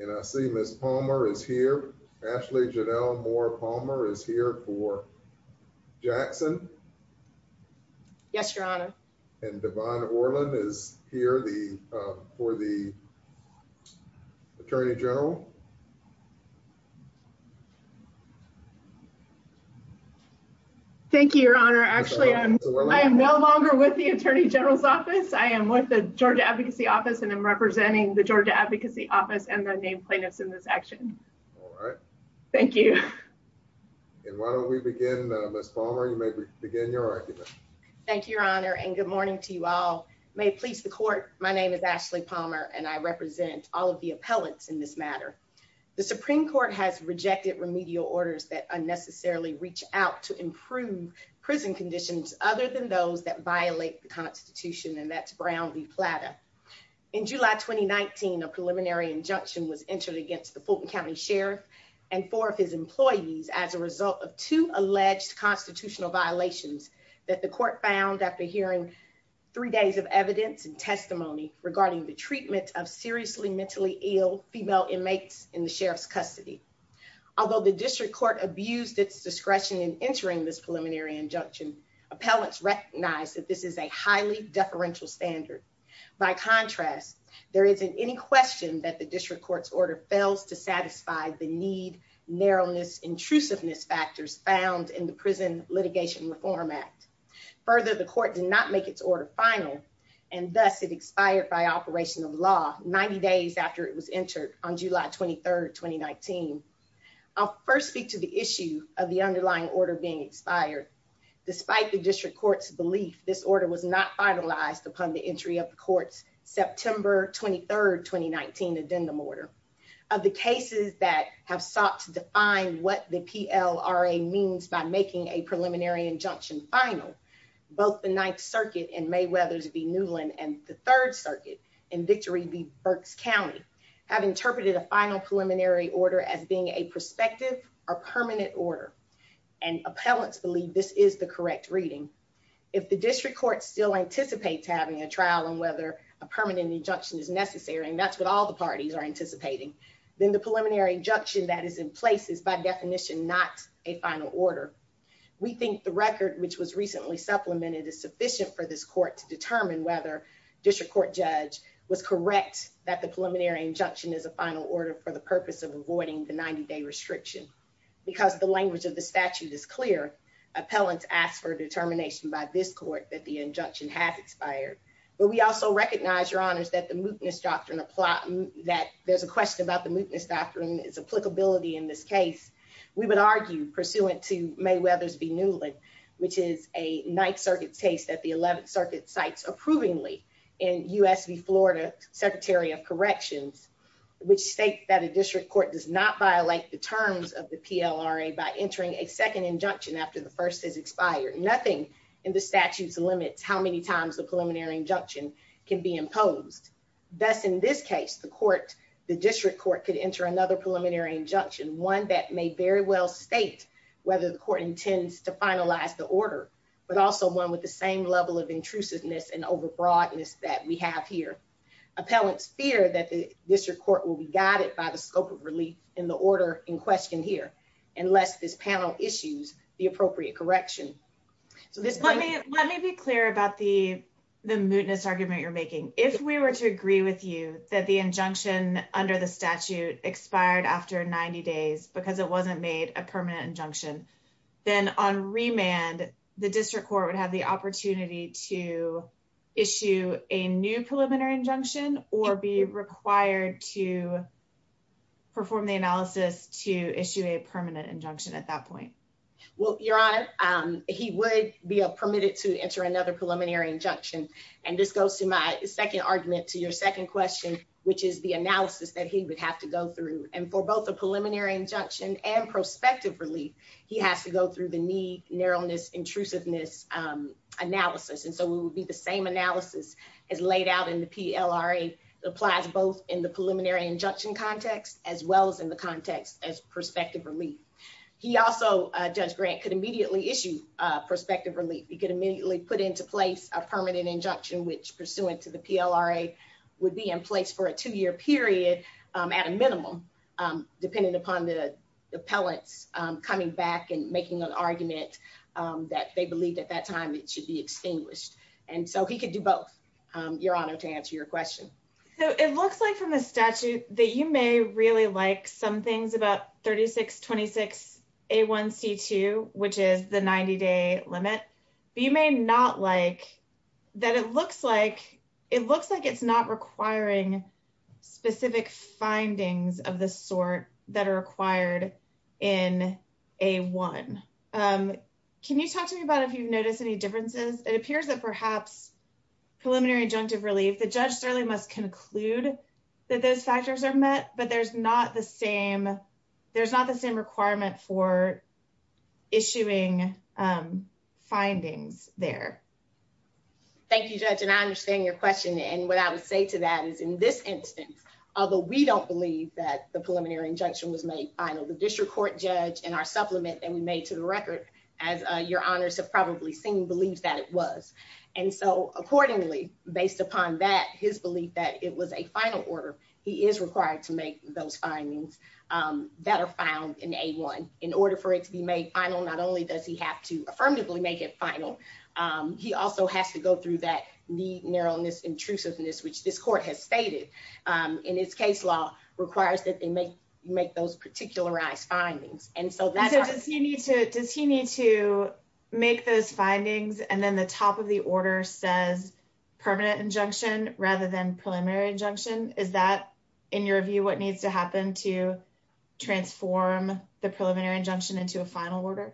and I see Ms. Palmer is here. Ashley Janelle Moore-Palmer is here for Jackson. Yes, your honor. Actually, I am no longer with the Attorney General's office. I am with the Georgia Advocacy Office and I'm representing the Georgia Advocacy Office and the named plaintiffs in this action. Thank you. And why don't we begin? Ms. Palmer, you may begin your argument. Thank you, your honor. And good morning to you all. May it please the court. My name is Ashley Palmer and I represent all of the appellants in this matter. The Supreme Court has rejected remedial orders that unnecessarily reach out to improve prison conditions other than those that violate the Constitution and that's Brown v. Plata. In July 2019, a preliminary injunction was entered against the Fulton County Sheriff and four of his employees as a result of two alleged constitutional violations that the court found after hearing three days of evidence and testimony regarding the treatment of seriously mentally ill female inmates in the sheriff's custody. Although the district court abused its discretion in entering this preliminary injunction, appellants recognize that this is a highly deferential standard. By contrast, there isn't any question that the district court's order fails to satisfy the need, narrowness, intrusiveness factors found in the Prison Litigation Reform Act. Further, the court did not make its order final and thus it expired by operation of law 90 days after it was entered on July 23rd, 2019. I'll first speak to the issue of the underlying order being expired. Despite the district court's belief, this order was not finalized upon the entry of the court's September 23rd, 2019 addendum order. Of the cases that have sought to define what the PLRA means by making a preliminary injunction final, both the Ninth Circuit in Mayweathers v. Newland and the Third Circuit in Victory v. Berks County have interpreted a final preliminary order as being a prospective or permanent order and appellants believe this is the correct reading. If the district court still anticipates having a trial on whether a permanent injunction is necessary, and that's what all the parties are anticipating, then the preliminary injunction that is in place is by definition not a final order. We think the record which was recently supplemented is sufficient for this court to determine whether district court judge was correct that the preliminary injunction is a final order for the purpose of avoiding the 90-day restriction. Because the language of the statute is clear, appellants ask for determination by this court that the injunction has expired. But we also recognize, Your Honors, that the mootness doctrine that there's a question about the mootness doctrine, its applicability in this case. We would argue pursuant to Mayweathers v. Newland, which is a Ninth Circuit's case that the 11th Circuit cites approvingly in U.S. v. Florida Secretary of Corrections, which states that a district court does not violate the terms of the PLRA by entering a second injunction after the first has expired. Nothing in the statute limits how many times the preliminary injunction can be entered. In this case, the district court could enter another preliminary injunction, one that may very well state whether the court intends to finalize the order, but also one with the same level of intrusiveness and over-broadness that we have here. Appellants fear that the district court will be guided by the scope of relief in the order in question here, unless this panel issues the appropriate correction. Let me be clear about the mootness argument you're making. If we were to agree with you that the injunction under the statute expired after 90 days because it wasn't made a permanent injunction, then on remand, the district court would have the opportunity to issue a new preliminary injunction or be required to perform the analysis to issue a permanent injunction at that point. Well, Your Honor, he would be permitted to enter another preliminary injunction. And this goes to my second argument to your second question, which is the analysis that he would have to go through. And for both the preliminary injunction and prospective relief, he has to go through the need, narrowness, intrusiveness analysis. And so it would be the same analysis as laid out in the PLRA. It applies both in the preliminary injunction context as well as in the context as prospective relief. He also, Judge Grant, could immediately issue prospective relief. He could immediately put into place a permanent injunction, which pursuant to the PLRA would be in place for a two-year period at a minimum, depending upon the appellants coming back and making an argument that they believed at that time it should be extinguished. And so he could do both, Your Honor, to answer your question. So it looks like from the statute that you may really like some things about 3626A1C2, which is the 90-day limit, but you may not like that it looks like it's not requiring specific findings of the sort that are required in A1. Can you talk to me about if you've noticed any differences? It appears that perhaps preliminary injunctive relief, the judge certainly must conclude that those factors are met, but there's not the same requirement for issuing findings there. Thank you, Judge, and I understand your question. And what I would say to that is in this instance, although we don't believe that the preliminary injunction was made final, the district court judge and our supplement that we made to the record, as Your Honors have probably seen, believes that it was. And so accordingly, based upon that, his belief that it was a final order, he is required to make those findings that are found in A1. In order for it to be made final, not only does he have to affirmatively make it final, he also has to go through that need, narrowness, intrusiveness, which this court has stated in its case law requires that they make those particularized findings. And so does he need to make those findings and then the top of the order says permanent injunction rather than preliminary injunction? Is that, in your view, what needs to happen to transform the preliminary injunction into a final order?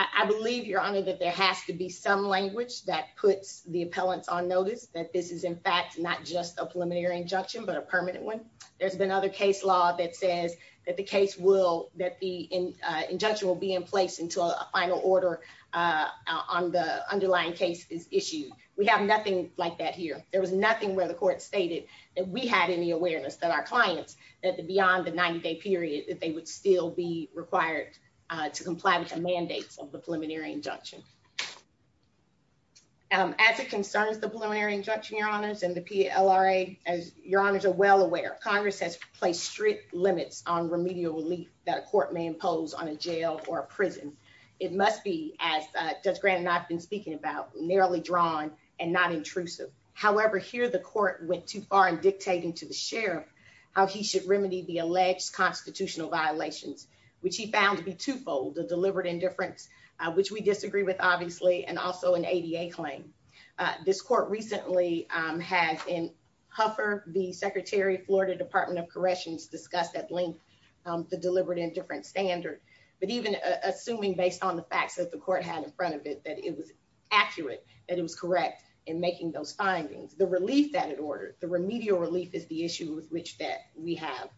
I believe, Your Honor, that there has to be some language that puts the appellants on notice that this is in fact not just a preliminary injunction but a permanent one. There's been other case law that says the case will, that the injunction will be in place until a final order on the underlying case is issued. We have nothing like that here. There was nothing where the court stated that we had any awareness that our clients, that beyond the 90-day period, that they would still be required to comply with the mandates of the preliminary injunction. As it concerns the preliminary injunction, Your Honors, and the PLRA, as Your Honors are well on remedial relief that a court may impose on a jail or a prison. It must be, as Judge Grant and I have been speaking about, narrowly drawn and not intrusive. However, here the court went too far in dictating to the sheriff how he should remedy the alleged constitutional violations, which he found to be twofold, a deliberate indifference, which we disagree with, obviously, and also an ADA claim. This court recently has in Huffer, the Secretary of Florida Department of Corrections, discussed at length the deliberate indifference standard, but even assuming based on the facts that the court had in front of it that it was accurate, that it was correct in making those findings. The relief that it ordered, the remedial relief, is the issue with which that we have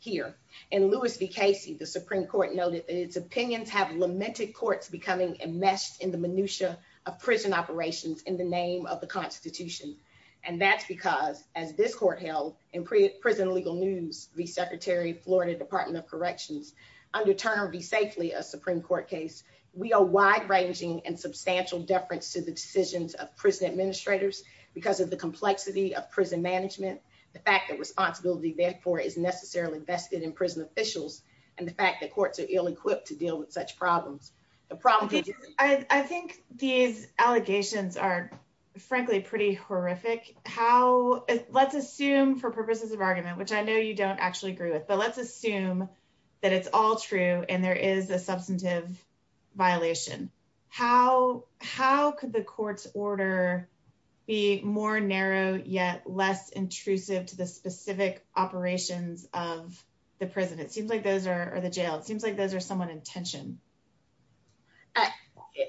here. In Lewis v. Casey, the Supreme Court noted that its opinions have lamented courts becoming enmeshed in the minutia of prison operations in the name of the Constitution, and that's because, as this court held in Prison Illegal News v. Secretary of Florida Department of Corrections, under Turner v. Safely, a Supreme Court case, we owe wide-ranging and substantial deference to the decisions of prison administrators because of the complexity of prison management, the fact that responsibility, therefore, is necessarily vested in prison officials, and the fact that courts are ill-equipped to deal with such problems. The problem— I think these allegations are, frankly, pretty horrific. How—let's assume, for purposes of argument, which I know you don't actually agree with, but let's assume that it's all true and there is a substantive violation. How could the court's order be more narrow yet less intrusive to the specific operations of the prison? It seems like those are—or the jail—it seems like those are somewhat in tension.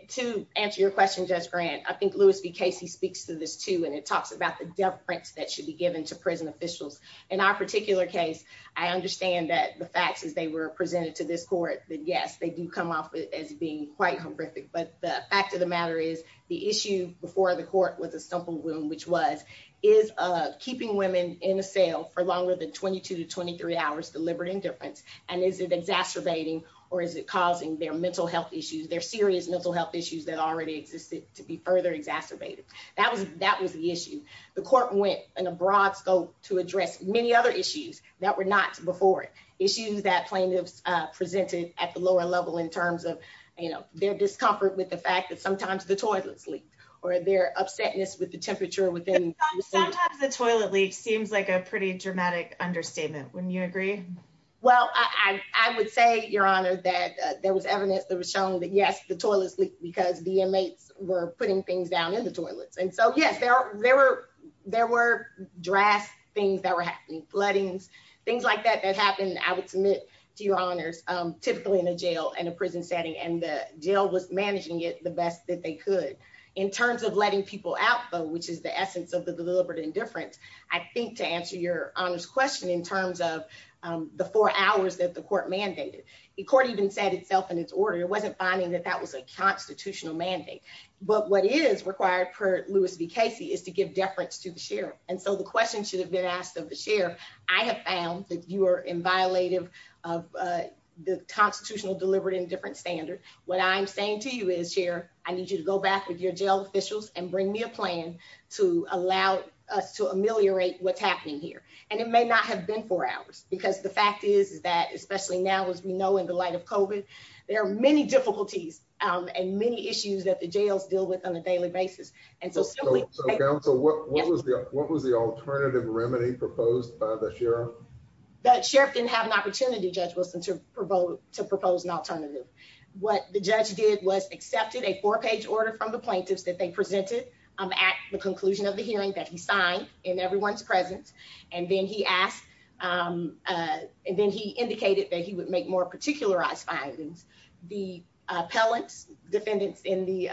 To answer your question, Judge Grant, I think Lewis v. Casey speaks to this, too, and it talks about the deference that should be given to prison officials. In our particular case, I understand that the facts, as they were presented to this court, that, yes, they do come off as being quite horrific, but the fact of the matter is the issue before the court was a stumple wound, which was, is keeping women in a cell for longer than 22 to 23 hours deliberate indifference, and is it exacerbating or is it causing their mental health issues, their serious mental health issues that already existed to be further exacerbated? That was the issue. The court went in a broad scope to address many other issues that were not before it, issues that plaintiffs presented at the lower level in terms of, you know, their discomfort with the fact that sometimes the toilets leaked or their upsetness with the temperature within— Sometimes the toilet leak seems like a pretty dramatic understatement. Wouldn't you agree? Well, I would say, Your Honor, that there was evidence that was shown that, yes, the toilets leaked because the inmates were putting things down in the toilets, and so, yes, there were drast things that were happening, floodings, things like that that happened, I would submit to Your Honors, typically in a jail and a prison setting, and the jail was managing it the best that they could. In terms of letting people out, though, which is the essence of the deliberate indifference, I think to answer Your Honors question in terms of the four hours that the court mandated, the court even set itself in its order. It wasn't finding that that was a constitutional mandate, but what is required per Lewis v. Casey is to give deference to the sheriff, and so the question should have been asked of the sheriff. I have found that you are inviolative of the constitutional deliberate indifference standard. What I'm saying to you is, Sheriff, I need you to go back with your jail officials and bring me a plan to allow us to ameliorate what's happening here, and it may not have been four hours, because the fact is that, especially now, as we know in the light of COVID, there are many difficulties and many issues that the jails deal with on a daily basis, and so simply- So, counsel, what was the alternative remedy proposed by the sheriff? The sheriff didn't have an opportunity, Judge Wilson, to propose an alternative. What the judge did was accepted a four-page order from the plaintiffs that they presented, at the conclusion of the hearing, that he signed in everyone's presence, and then he asked, and then he indicated that he would make more particularized findings. The appellants, defendants in the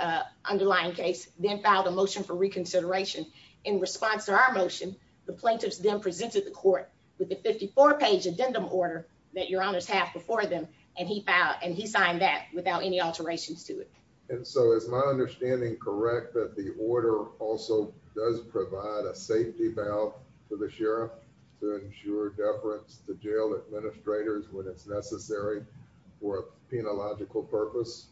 underlying case, then filed a motion for reconsideration. In response to our motion, the plaintiffs then presented the court with the 54-page addendum order that your honors have before them, and he signed that without any alterations to it. And so, is my understanding correct that the order also does provide a safety valve for the sheriff to ensure deference to jail administrators when it's necessary for a penological purpose?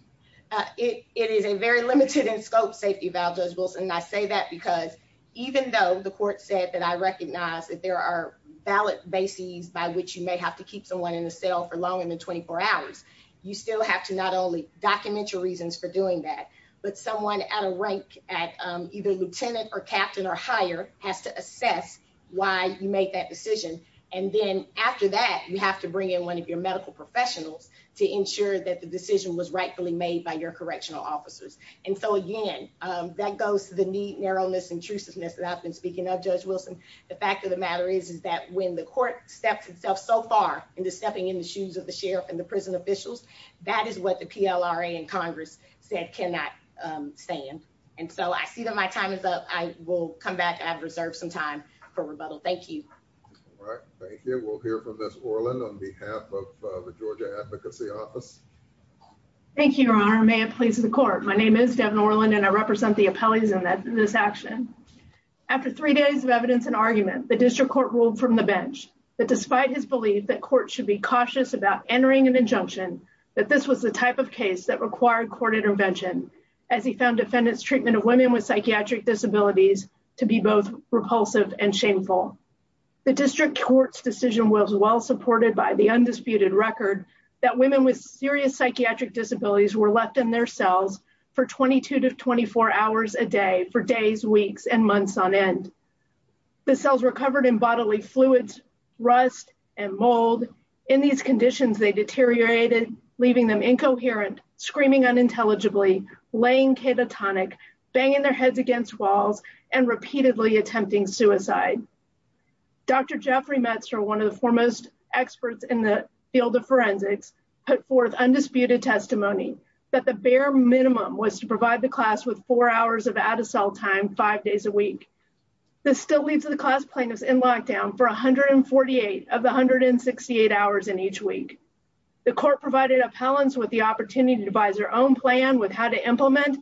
It is a very limited-in-scope safety valve, Judge Wilson, and I say that because even though the court said that I recognize that there are valid bases by which you may have to keep someone in a cell for longer than 24 hours, you still have to not only document your reasons for doing that, but someone at a rank, at either lieutenant or captain or higher, has to assess why you made that decision. And then, after that, you have to bring in one of your medical professionals to ensure that the decision was rightfully made by your correctional officers. And so, again, that goes to the need, narrowness, intrusiveness that I've been speaking of, Judge Wilson. The fact of the matter is, is that when the court steps itself so far into stepping in the shoes of the sheriff and the prison officials, that is what the PLRA and Congress said cannot stand. And so, I see that my time is up. I will come back. I have reserved some time for rebuttal. Thank you. All right. Thank you. We'll hear from Ms. Orland on behalf of the Georgia Advocacy Office. Thank you, Your Honor. May it please the court. My name is Devin Orland, and I represent the appellees in this action. After three days of evidence and argument, the district court ruled from the bench that despite his belief that courts should be cautious about entering an injunction, that this was the type of case that required court intervention, as he found defendants' treatment of women with psychiatric disabilities to be both repulsive and shameful. The district court's decision was well supported by the undisputed record that women with serious psychiatric disabilities were left in their cells for 22 to 24 hours a day for days, weeks, and months on end. The cells were covered in bodily fluids, rust, and mold. In these conditions, they deteriorated, leaving them incoherent, screaming unintelligibly, laying catatonic, banging their heads against walls, and repeatedly attempting suicide. Dr. Jeffrey Metzer, one of the foremost experts in the field of forensics, put forth undisputed testimony that the bare minimum was to provide the class with four hours of out-of-cell time, five days a week. This still leaves the class plaintiffs in lockdown for 148 of the 168 hours in each week. The court provided appellants with the opportunity to devise their own plan with how to implement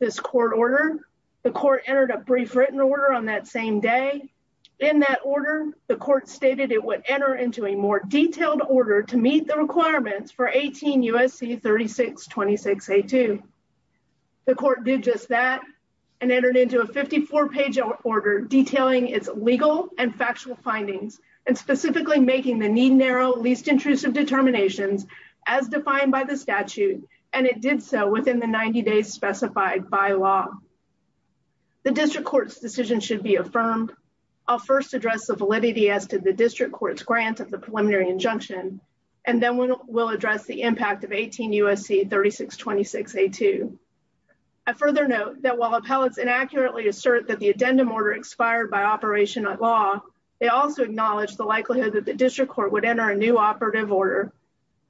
this court order. The court entered a brief written order on that same day. In that order, the court stated it would enter into a more detailed order to meet the requirements for 18 U.S.C. 3626A2. The court did just that, and entered into a 54-page order detailing its legal and factual findings, and specifically making the need-narrow, least-intrusive determinations as defined by the statute, and it did so within the 90 days specified by law. The district court's decision should be affirmed. I'll first address the validity as to the district court's grant of the preliminary injunction, and then we'll address the impact of 18 U.S.C. 3626A2. I further note that while appellants inaccurately assert that the addendum order expired by operation of law, they also acknowledge the likelihood that the district court would enter a new operative order.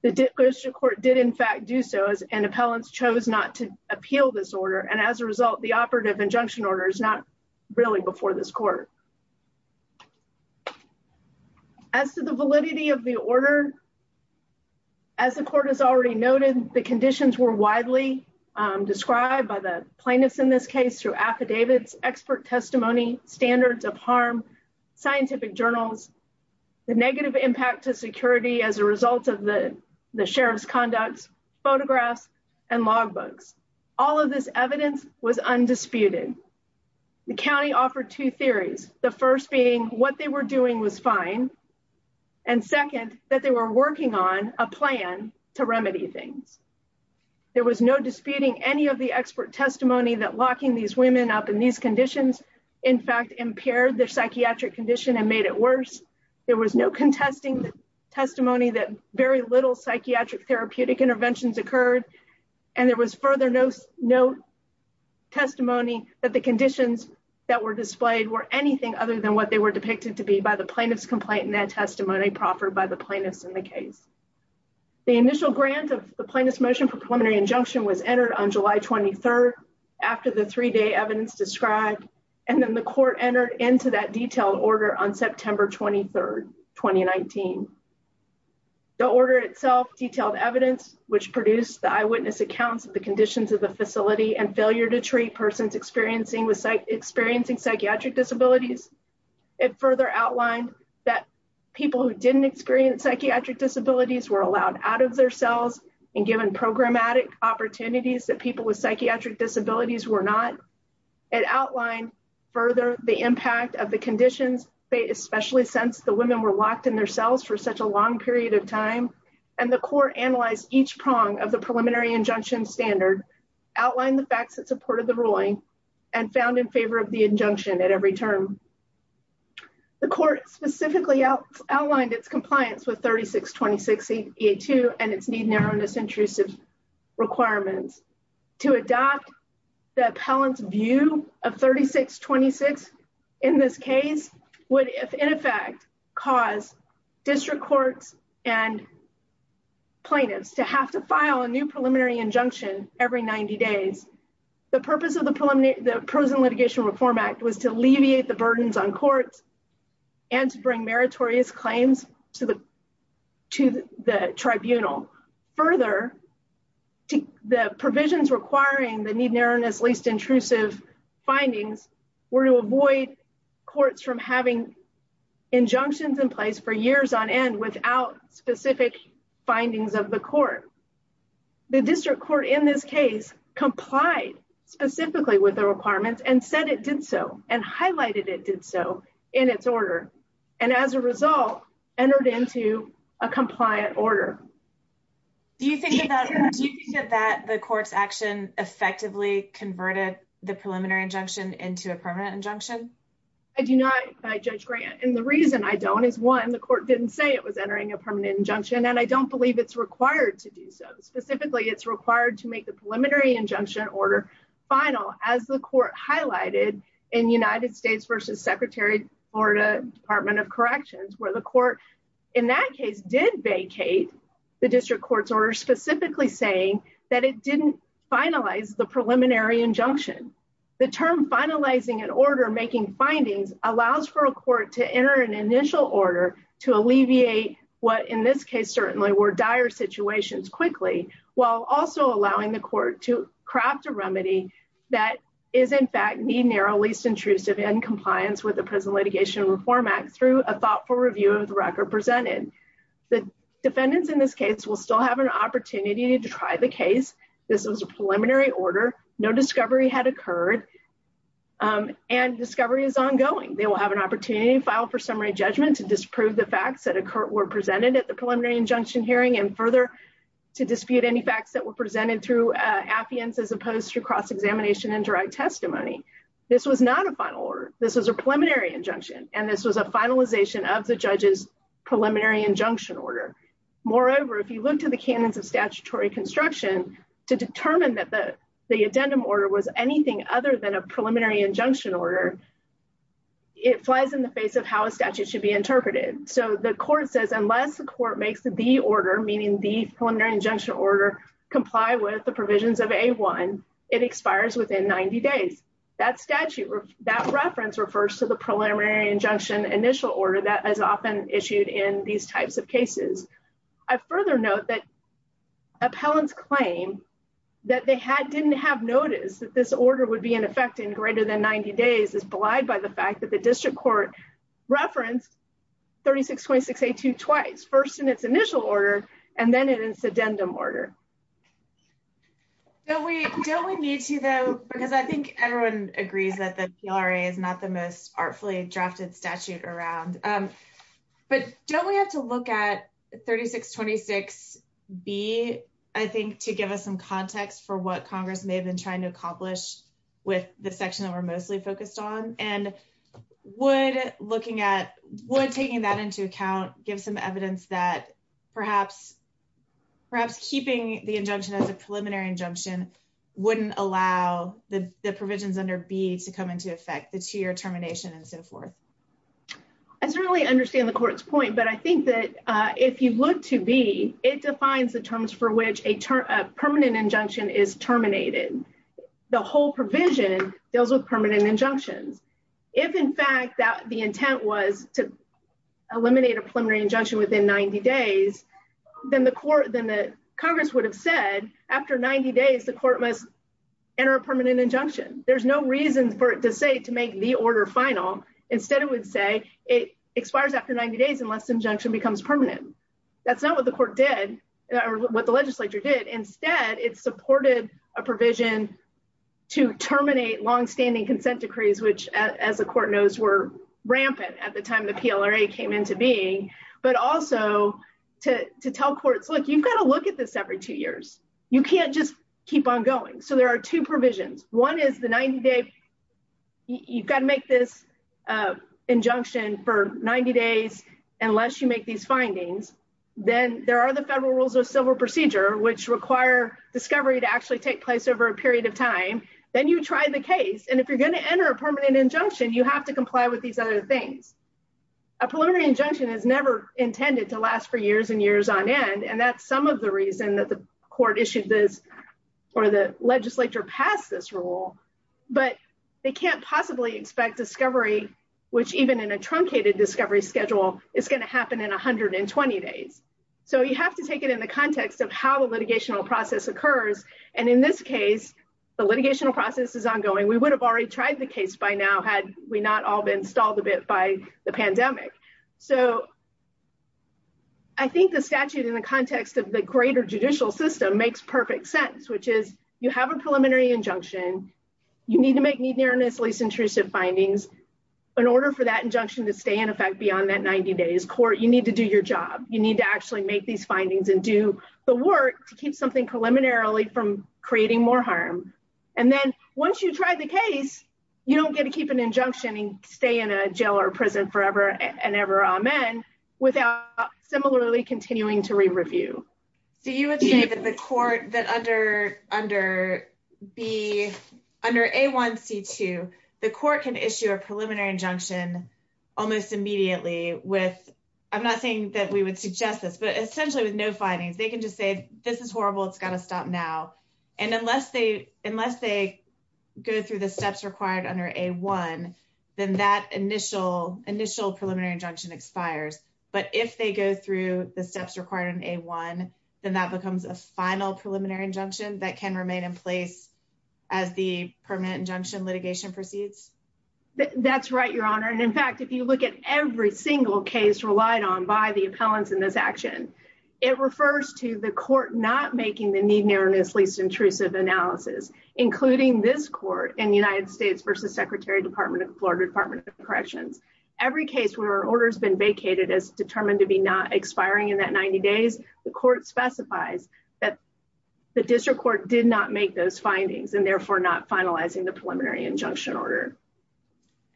The district court did, in fact, do so, and appellants chose not to appeal this order, and as a result, the operative injunction order is not really before this court. As to the validity of the order, as the court has already noted, the conditions were widely described by the plaintiffs in this case through affidavits, expert testimony, standards of harm, scientific journals, the negative impact to security as a result of the sheriff's conduct, photographs, and logbooks. All of this evidence was undisputed. The county offered two theories, the first being what they were doing was fine, and second, that they were working on a plan to remedy things. There was no disputing any of the expert testimony that locking these women up in these conditions, in fact, impaired their psychiatric condition and made it worse. There was no contesting testimony that very little psychiatric therapeutic interventions occurred, and there was further no testimony that the conditions that were displayed were anything other than what they were depicted to be by the plaintiff's complaint, and that testimony proffered by the plaintiffs in the case. The initial grant of the plaintiff's motion for preliminary injunction was entered on July 23rd after the three-day evidence described, and then the court entered into that detailed order on September 23rd, 2019. The order itself detailed evidence which produced the eyewitness accounts of the conditions of the facility and failure to treat persons experiencing psychiatric disabilities. It further outlined that people who didn't experience psychiatric disabilities were allowed out of their cells and given programmatic opportunities that people with psychiatric disabilities were not. It outlined further the impact of the conditions. They especially sensed the women were locked in their cells for such a long period of time, and the court analyzed each prong of the preliminary injunction standard, outlined the facts that supported the ruling, and found in favor of the injunction at every term. The court specifically outlined its compliance with 3626A2 and its need-narrowness-intrusive requirements. To adopt the appellant's view of 3626 in this case would, if in effect, cause district courts and plaintiffs to have to file a new preliminary injunction every 90 days. The purpose of the Prose and Litigation Reform Act was to alleviate the burdens on courts and to bring meritorious claims to the tribunal. Further, the provisions requiring the need-narrowness-least-intrusive findings were to avoid courts from having injunctions in place for years on end without specific findings of the court. The district court in this case complied specifically with the requirements and said it did so and highlighted it did so in its order, and as a result, entered into a compliant order. Do you think that the court's action effectively converted the preliminary injunction into a permanent injunction? I do not, Judge Grant, and the reason I don't is, one, the court didn't say it was entering a permanent injunction, and I don't believe it's required to do so. Specifically, it's required to make the preliminary injunction order final, as the court highlighted in United States v. Secretary of Florida Department of Corrections, where the court in that case did vacate the district court's order specifically saying that it didn't finalize the preliminary injunction. The term finalizing an order making findings allows for a court to enter an initial order to alleviate what in this case certainly were dire situations quickly, while also allowing the court to craft a remedy that is, in fact, need-narrow-least-intrusive in compliance with Prison Litigation and Reform Act through a thoughtful review of the record presented. The defendants in this case will still have an opportunity to try the case. This was a preliminary order. No discovery had occurred, and discovery is ongoing. They will have an opportunity to file for summary judgment to disprove the facts that were presented at the preliminary injunction hearing, and further, to dispute any facts that were presented through affiance as opposed to cross-examination and direct testimony. This was not a final order. This was a preliminary injunction, and this was a finalization of the judge's preliminary injunction order. Moreover, if you look to the canons of statutory construction to determine that the addendum order was anything other than a preliminary injunction order, it flies in the face of how a statute should be interpreted. So the court says unless the court makes the order, meaning the preliminary injunction order, comply with the provisions of A-1, it expires within 90 days. That reference refers to the preliminary injunction initial order that is often issued in these types of cases. I further note that appellants claim that they didn't have notice that this order would be in effect in greater than 90 days is belied by the fact that the district court referenced 3626A-2 twice, first in its initial order and then in its addendum order. Don't we need to, though, because I think everyone agrees that the PLRA is not the most artfully drafted statute around. But don't we have to look at 3626B, I think, to give us some context for what Congress may have been trying to accomplish with the section that we're mostly focused on? And would taking that into account give some evidence that perhaps keeping the injunction as a preliminary injunction wouldn't allow the provisions under B to come into effect, the two-year termination and so forth? I certainly understand the court's point, but I think that if you look to B, it defines the terms for which a permanent injunction is terminated. The whole provision deals with permanent injunctions. If, in fact, the intent was to eliminate a preliminary injunction within 90 days, then the Congress would have said after 90 days, the court must enter a permanent injunction. There's no reason for it to say to make the order final. Instead, it would say it expires after 90 days unless the injunction becomes permanent. That's not what the court did or what the legislature did. Instead, it supported a provision to terminate longstanding consent decrees, which, as the court knows, were rampant at the time the PLRA came into being. But also to tell courts, look, you've got to look at this every two years. You can't just keep on going. So there are two provisions. One is the 90-day—you've got to make this injunction for 90 days unless you make these findings. Then there are the federal rules of civil procedure, which require discovery to actually take place over a period of time. Then you try the case. And if you're going to enter a permanent injunction, you have to comply with these other things. A preliminary injunction is never intended to last for years and years on end, and that's some of the reason that the court issued this or the legislature passed this rule. But they can't possibly expect discovery, which even in a truncated discovery schedule, is going to happen in 120 days. So you have to take it in the context of how the litigational process occurs. And in this case, the litigational process is ongoing. We would have already tried the case by now had we not all been stalled a bit by the pandemic. So I think the statute in the context of the greater judicial system makes perfect sense, which is you have a preliminary injunction. You need to make need-nearness, least-intrusive findings. In order for that injunction to stay in effect beyond that 90 days, court, you need to do your job. You need to actually make these findings and do the work to keep something preliminarily from creating more harm. And then once you try the case, you don't get to keep an injunction and stay in a jail or prison forever and ever, amen, without similarly continuing to re-review. So you would say that the court, that under A1C2, the court can issue a preliminary injunction almost immediately with, I'm not saying that we would suggest this, but essentially with no findings. They can just say, this is horrible. It's got to stop now. And unless they go through the steps required under A1, then that initial preliminary injunction expires. But if they go through the steps required in A1, then that becomes a final preliminary injunction that can remain in place as the permanent injunction litigation proceeds? That's right, Your Honor. And in fact, if you look at every single case relied on by the appellants in this action, it refers to the court not making the need-nearness-least-intrusive analysis, including this court in the United States versus Secretary of the Florida Department of Corrections. Every case where an order has been vacated as determined to be not expiring in that 90 days, the court specifies that the district court did not make those findings and therefore not finalizing the preliminary injunction order.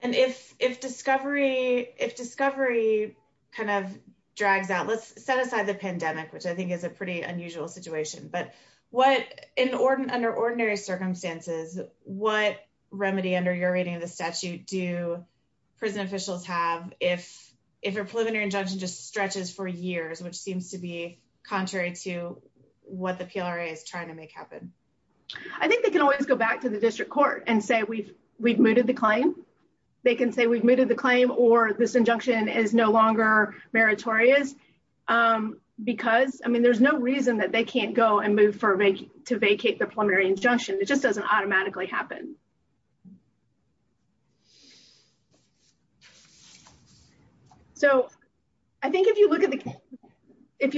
And if discovery kind of drags out, let's set aside the pandemic, which I think is a pretty unusual situation. But under ordinary circumstances, what remedy under your reading of the statute do prison officials have if a preliminary injunction just stretches for years, which seems to be contrary to what the PLRA is trying to make happen? I think they can always go back to the district court and say we've we've mooted the claim. They can say we've mooted the claim or this injunction is no longer meritorious because I mean, there's no reason that they can't go and move to vacate the preliminary injunction. It just doesn't automatically happen. So I think if you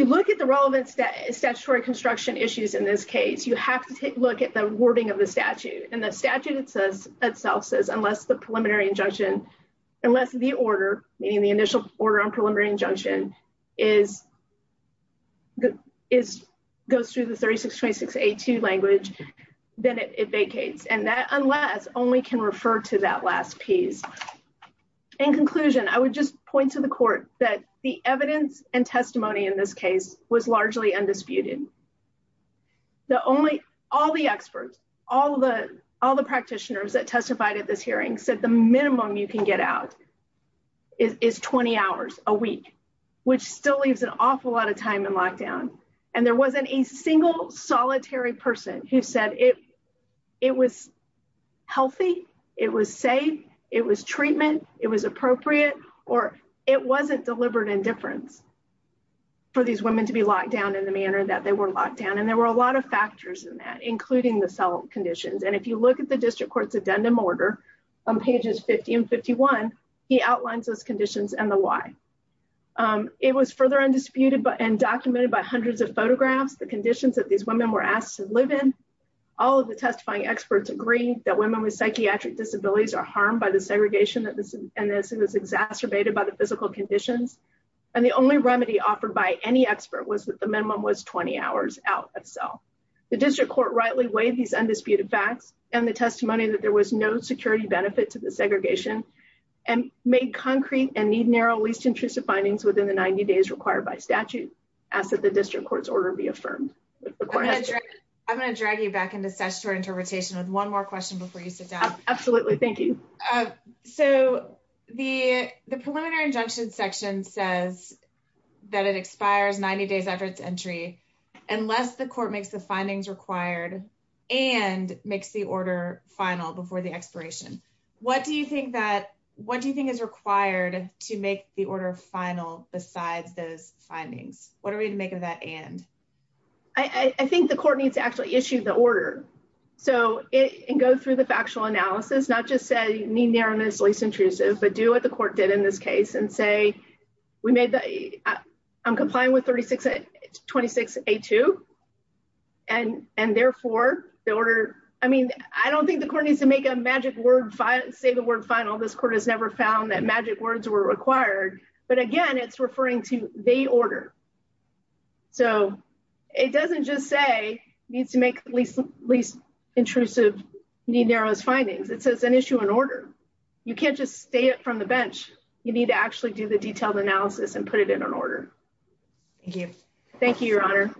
look at the relevance that statutory construction issues in this case, you have to take a look at the wording of the statute and the statute itself says unless the preliminary injunction unless the order, meaning the initial order on preliminary injunction is. Is goes through the 362682 language, then it vacates and that unless only can refer to that last piece in conclusion, I would just point to the court that the evidence and testimony in this case was largely undisputed. The only all the experts, all the all the practitioners that testified at this hearing said the minimum you can get out. Is 20 hours a week, which still leaves an awful lot of time in lockdown and there wasn't a single solitary person who said it. It was healthy. It was safe. It was treatment. It was appropriate or it wasn't deliberate indifference. For these women to be locked down in the manner that they were locked down and there were a lot of factors in that, including the cell conditions. And if you look at the district courts addendum order on pages 1551 he outlines those conditions and the why. It was further undisputed but and documented by hundreds of photographs the conditions that these women were asked to live in all of the testifying experts agree that women with psychiatric disabilities are harmed by the segregation that this and this is exacerbated by the physical conditions and the only remedy offered by any expert was that the minimum was 20 hours out of cell. The district court rightly weighed these undisputed facts and the testimony that there was no security benefit to the segregation and made concrete and need narrow least intrusive findings within the 90 days required by statute as the district court's order be affirmed. I'm going to drag you back into such interpretation with one more question before you sit down. Absolutely. Thank you. So the preliminary injunction section says that it expires 90 days after its entry unless the court makes the findings required and makes the order final before the expiration. What do you think that what do you think is required to make the order final besides those findings. What are we to make of that and I think the court needs to actually issue the order. So it can go through the factual analysis not just say you need there and it's least intrusive but do what the court did in this case and say we made that I'm complying with 36 26 8 2 and and therefore the order. I mean I don't think the court needs to make a magic word five say the word final. This court has never found that magic words were required but again it's referring to the order. So it doesn't just say needs to make least least intrusive need narrows findings it says an issue in order. You can't just stay up from the bench. You need to actually do the detailed analysis and put it in an order. Thank you. Thank you Your Honor.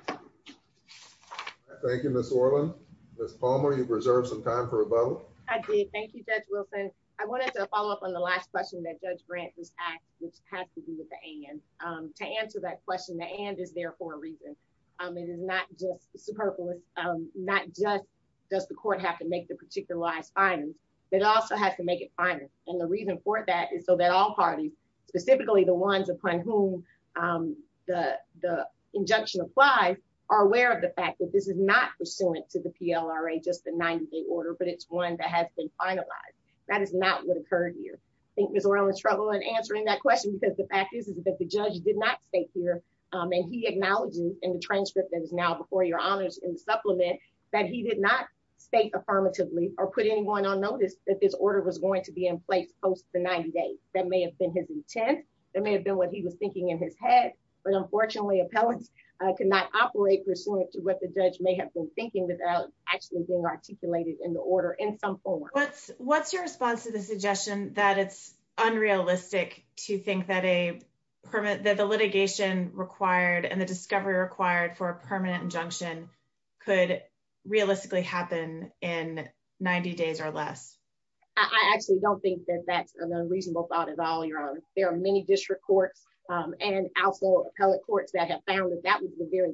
Thank you Miss Orland. Miss Palmer you preserved some time for a vote. I did. Thank you Judge Wilson. I wanted to follow up on the last question that Judge Grant was asked which had to do with the and to answer that question. The and is there for a reason. I mean it's not just superfluous not just does the court have to make the particular last findings. It also has to make it final and the reason for that is so that all parties specifically the ones upon whom the the injunction applies are aware of the fact that this is not pursuant to the PLRA just the 90 day order but it's one that has been finalized. That is not what occurred here. I think Miss Orland's trouble in answering that question because the fact is that the judge did not stay here and he acknowledged in the transcript that is now before your honors in the supplement that he did not state affirmatively or put anyone on notice that this order was going to be in place post the 90 days. That may have been his intent. That may have been what he was thinking in his head but unfortunately appellants could not operate pursuant to what the judge may have been thinking without actually being articulated in the order in some form. What's your response to the suggestion that it's unrealistic to think that a permit that the litigation required and the discovery required for a permanent injunction could realistically happen in 90 days or less? I actually don't think that that's an unreasonable thought at all your honor. There are many district courts and also appellate courts that have found that that was the very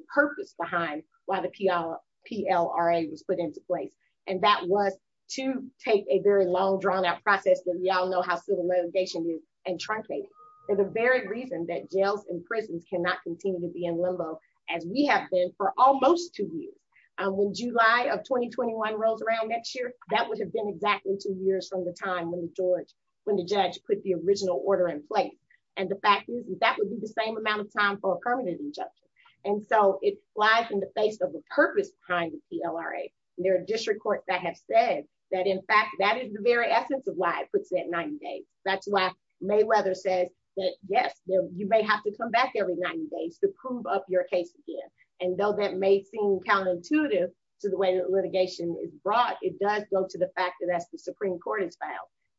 behind why the PLRA was put into place and that was to take a very long drawn out process that we all know how civil litigation is and truncate it for the very reason that jails and prisons cannot continue to be in limbo as we have been for almost two years. When July of 2021 rolls around next year that would have been exactly two years from the time when the judge put the original order in place and the fact is that would be the same amount of time for a permanent injunction. And so it flies in the face of the purpose behind the PLRA and there are district courts that have said that in fact that is the very essence of why it puts it at 90 days. That's why Mayweather says that yes you may have to come back every 90 days to prove up your case again and though that may seem counterintuitive to the way that litigation is brought it does go to the fact that as the Supreme Court has found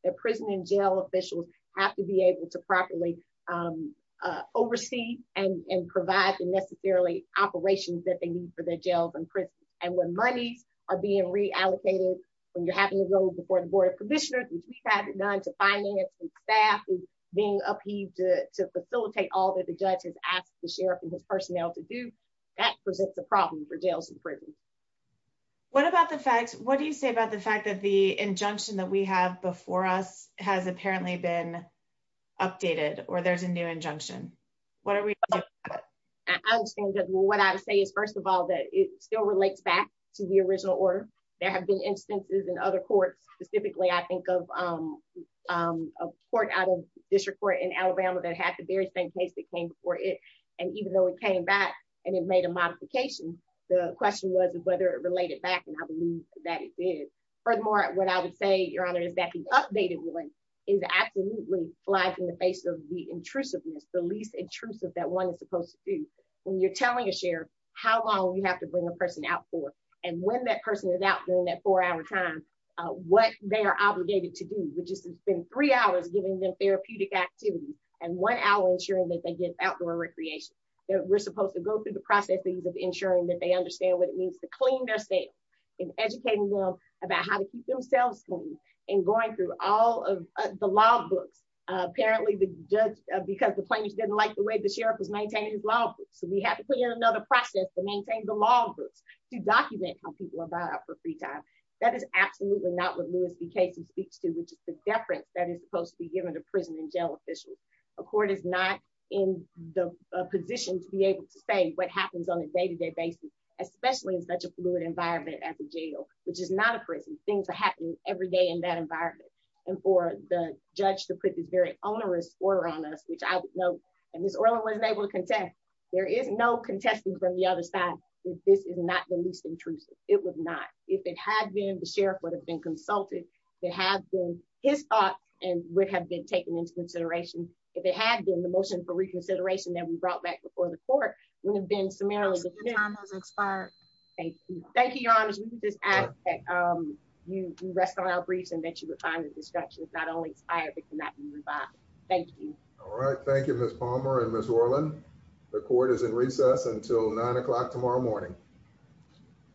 that prison and jail officials have to be able to properly oversee and provide the necessarily operations that they need for their jails and prisons. And when monies are being reallocated when you're having to go before the board of commissioners which we haven't done to finance and staff is being upheaved to facilitate all that the judge has asked the sheriff and his personnel to do that presents a problem for jails and prisons. What about the facts? What do you say about the fact that the injunction that we have before us has apparently been updated or there's a new injunction? What are we? I understand that what I would say is first of all that it still relates back to the original order. There have been instances in other courts specifically I think of a court out of district court in Alabama that had the very same case that came before it and even though it came back and it made a modification the question was whether it related back and I believe that it did. Furthermore what I would say your honor is that the updated ruling is absolutely flagged in the face of the intrusiveness the least intrusive that one is supposed to do when you're telling a sheriff how long you have to bring a person out for and when that person is out during that four hour time what they are obligated to do which is to spend three hours giving them therapeutic activity and one hour ensuring that they get outdoor recreation that we're supposed to go through the processes of ensuring that they understand what it means to clean theirself and educating them about how to keep themselves clean and going through all of the law books apparently the judge because the plaintiff didn't like the way the sheriff was maintaining his law books so we have to put in another process to maintain the law books to document how people are brought up for free time. That is absolutely not what Lewis v. Casey speaks to which is the deference that is supposed to be given to prison and jail officials. A court is not in the position to be able to say what happens on a day-to-day basis especially in such a fluid environment at the jail which is not a prison things are happening every day in that environment and for the judge to put this very onerous order on us which I would note and Ms. Orland wasn't able to contest there is no contesting from the other side this is not the least intrusive it was not if it had been the sheriff would have been consulted it had been his thought and would have been taken into consideration if it had been the motion for reconsideration that we brought back before the court would thank you thank you your honors we can just ask that um you rest on our briefs and that you would find that the structure is not only inspired but cannot be revived thank you all right thank you Ms. Palmer and Ms. Orland the court is in recess until nine o'clock tomorrow morning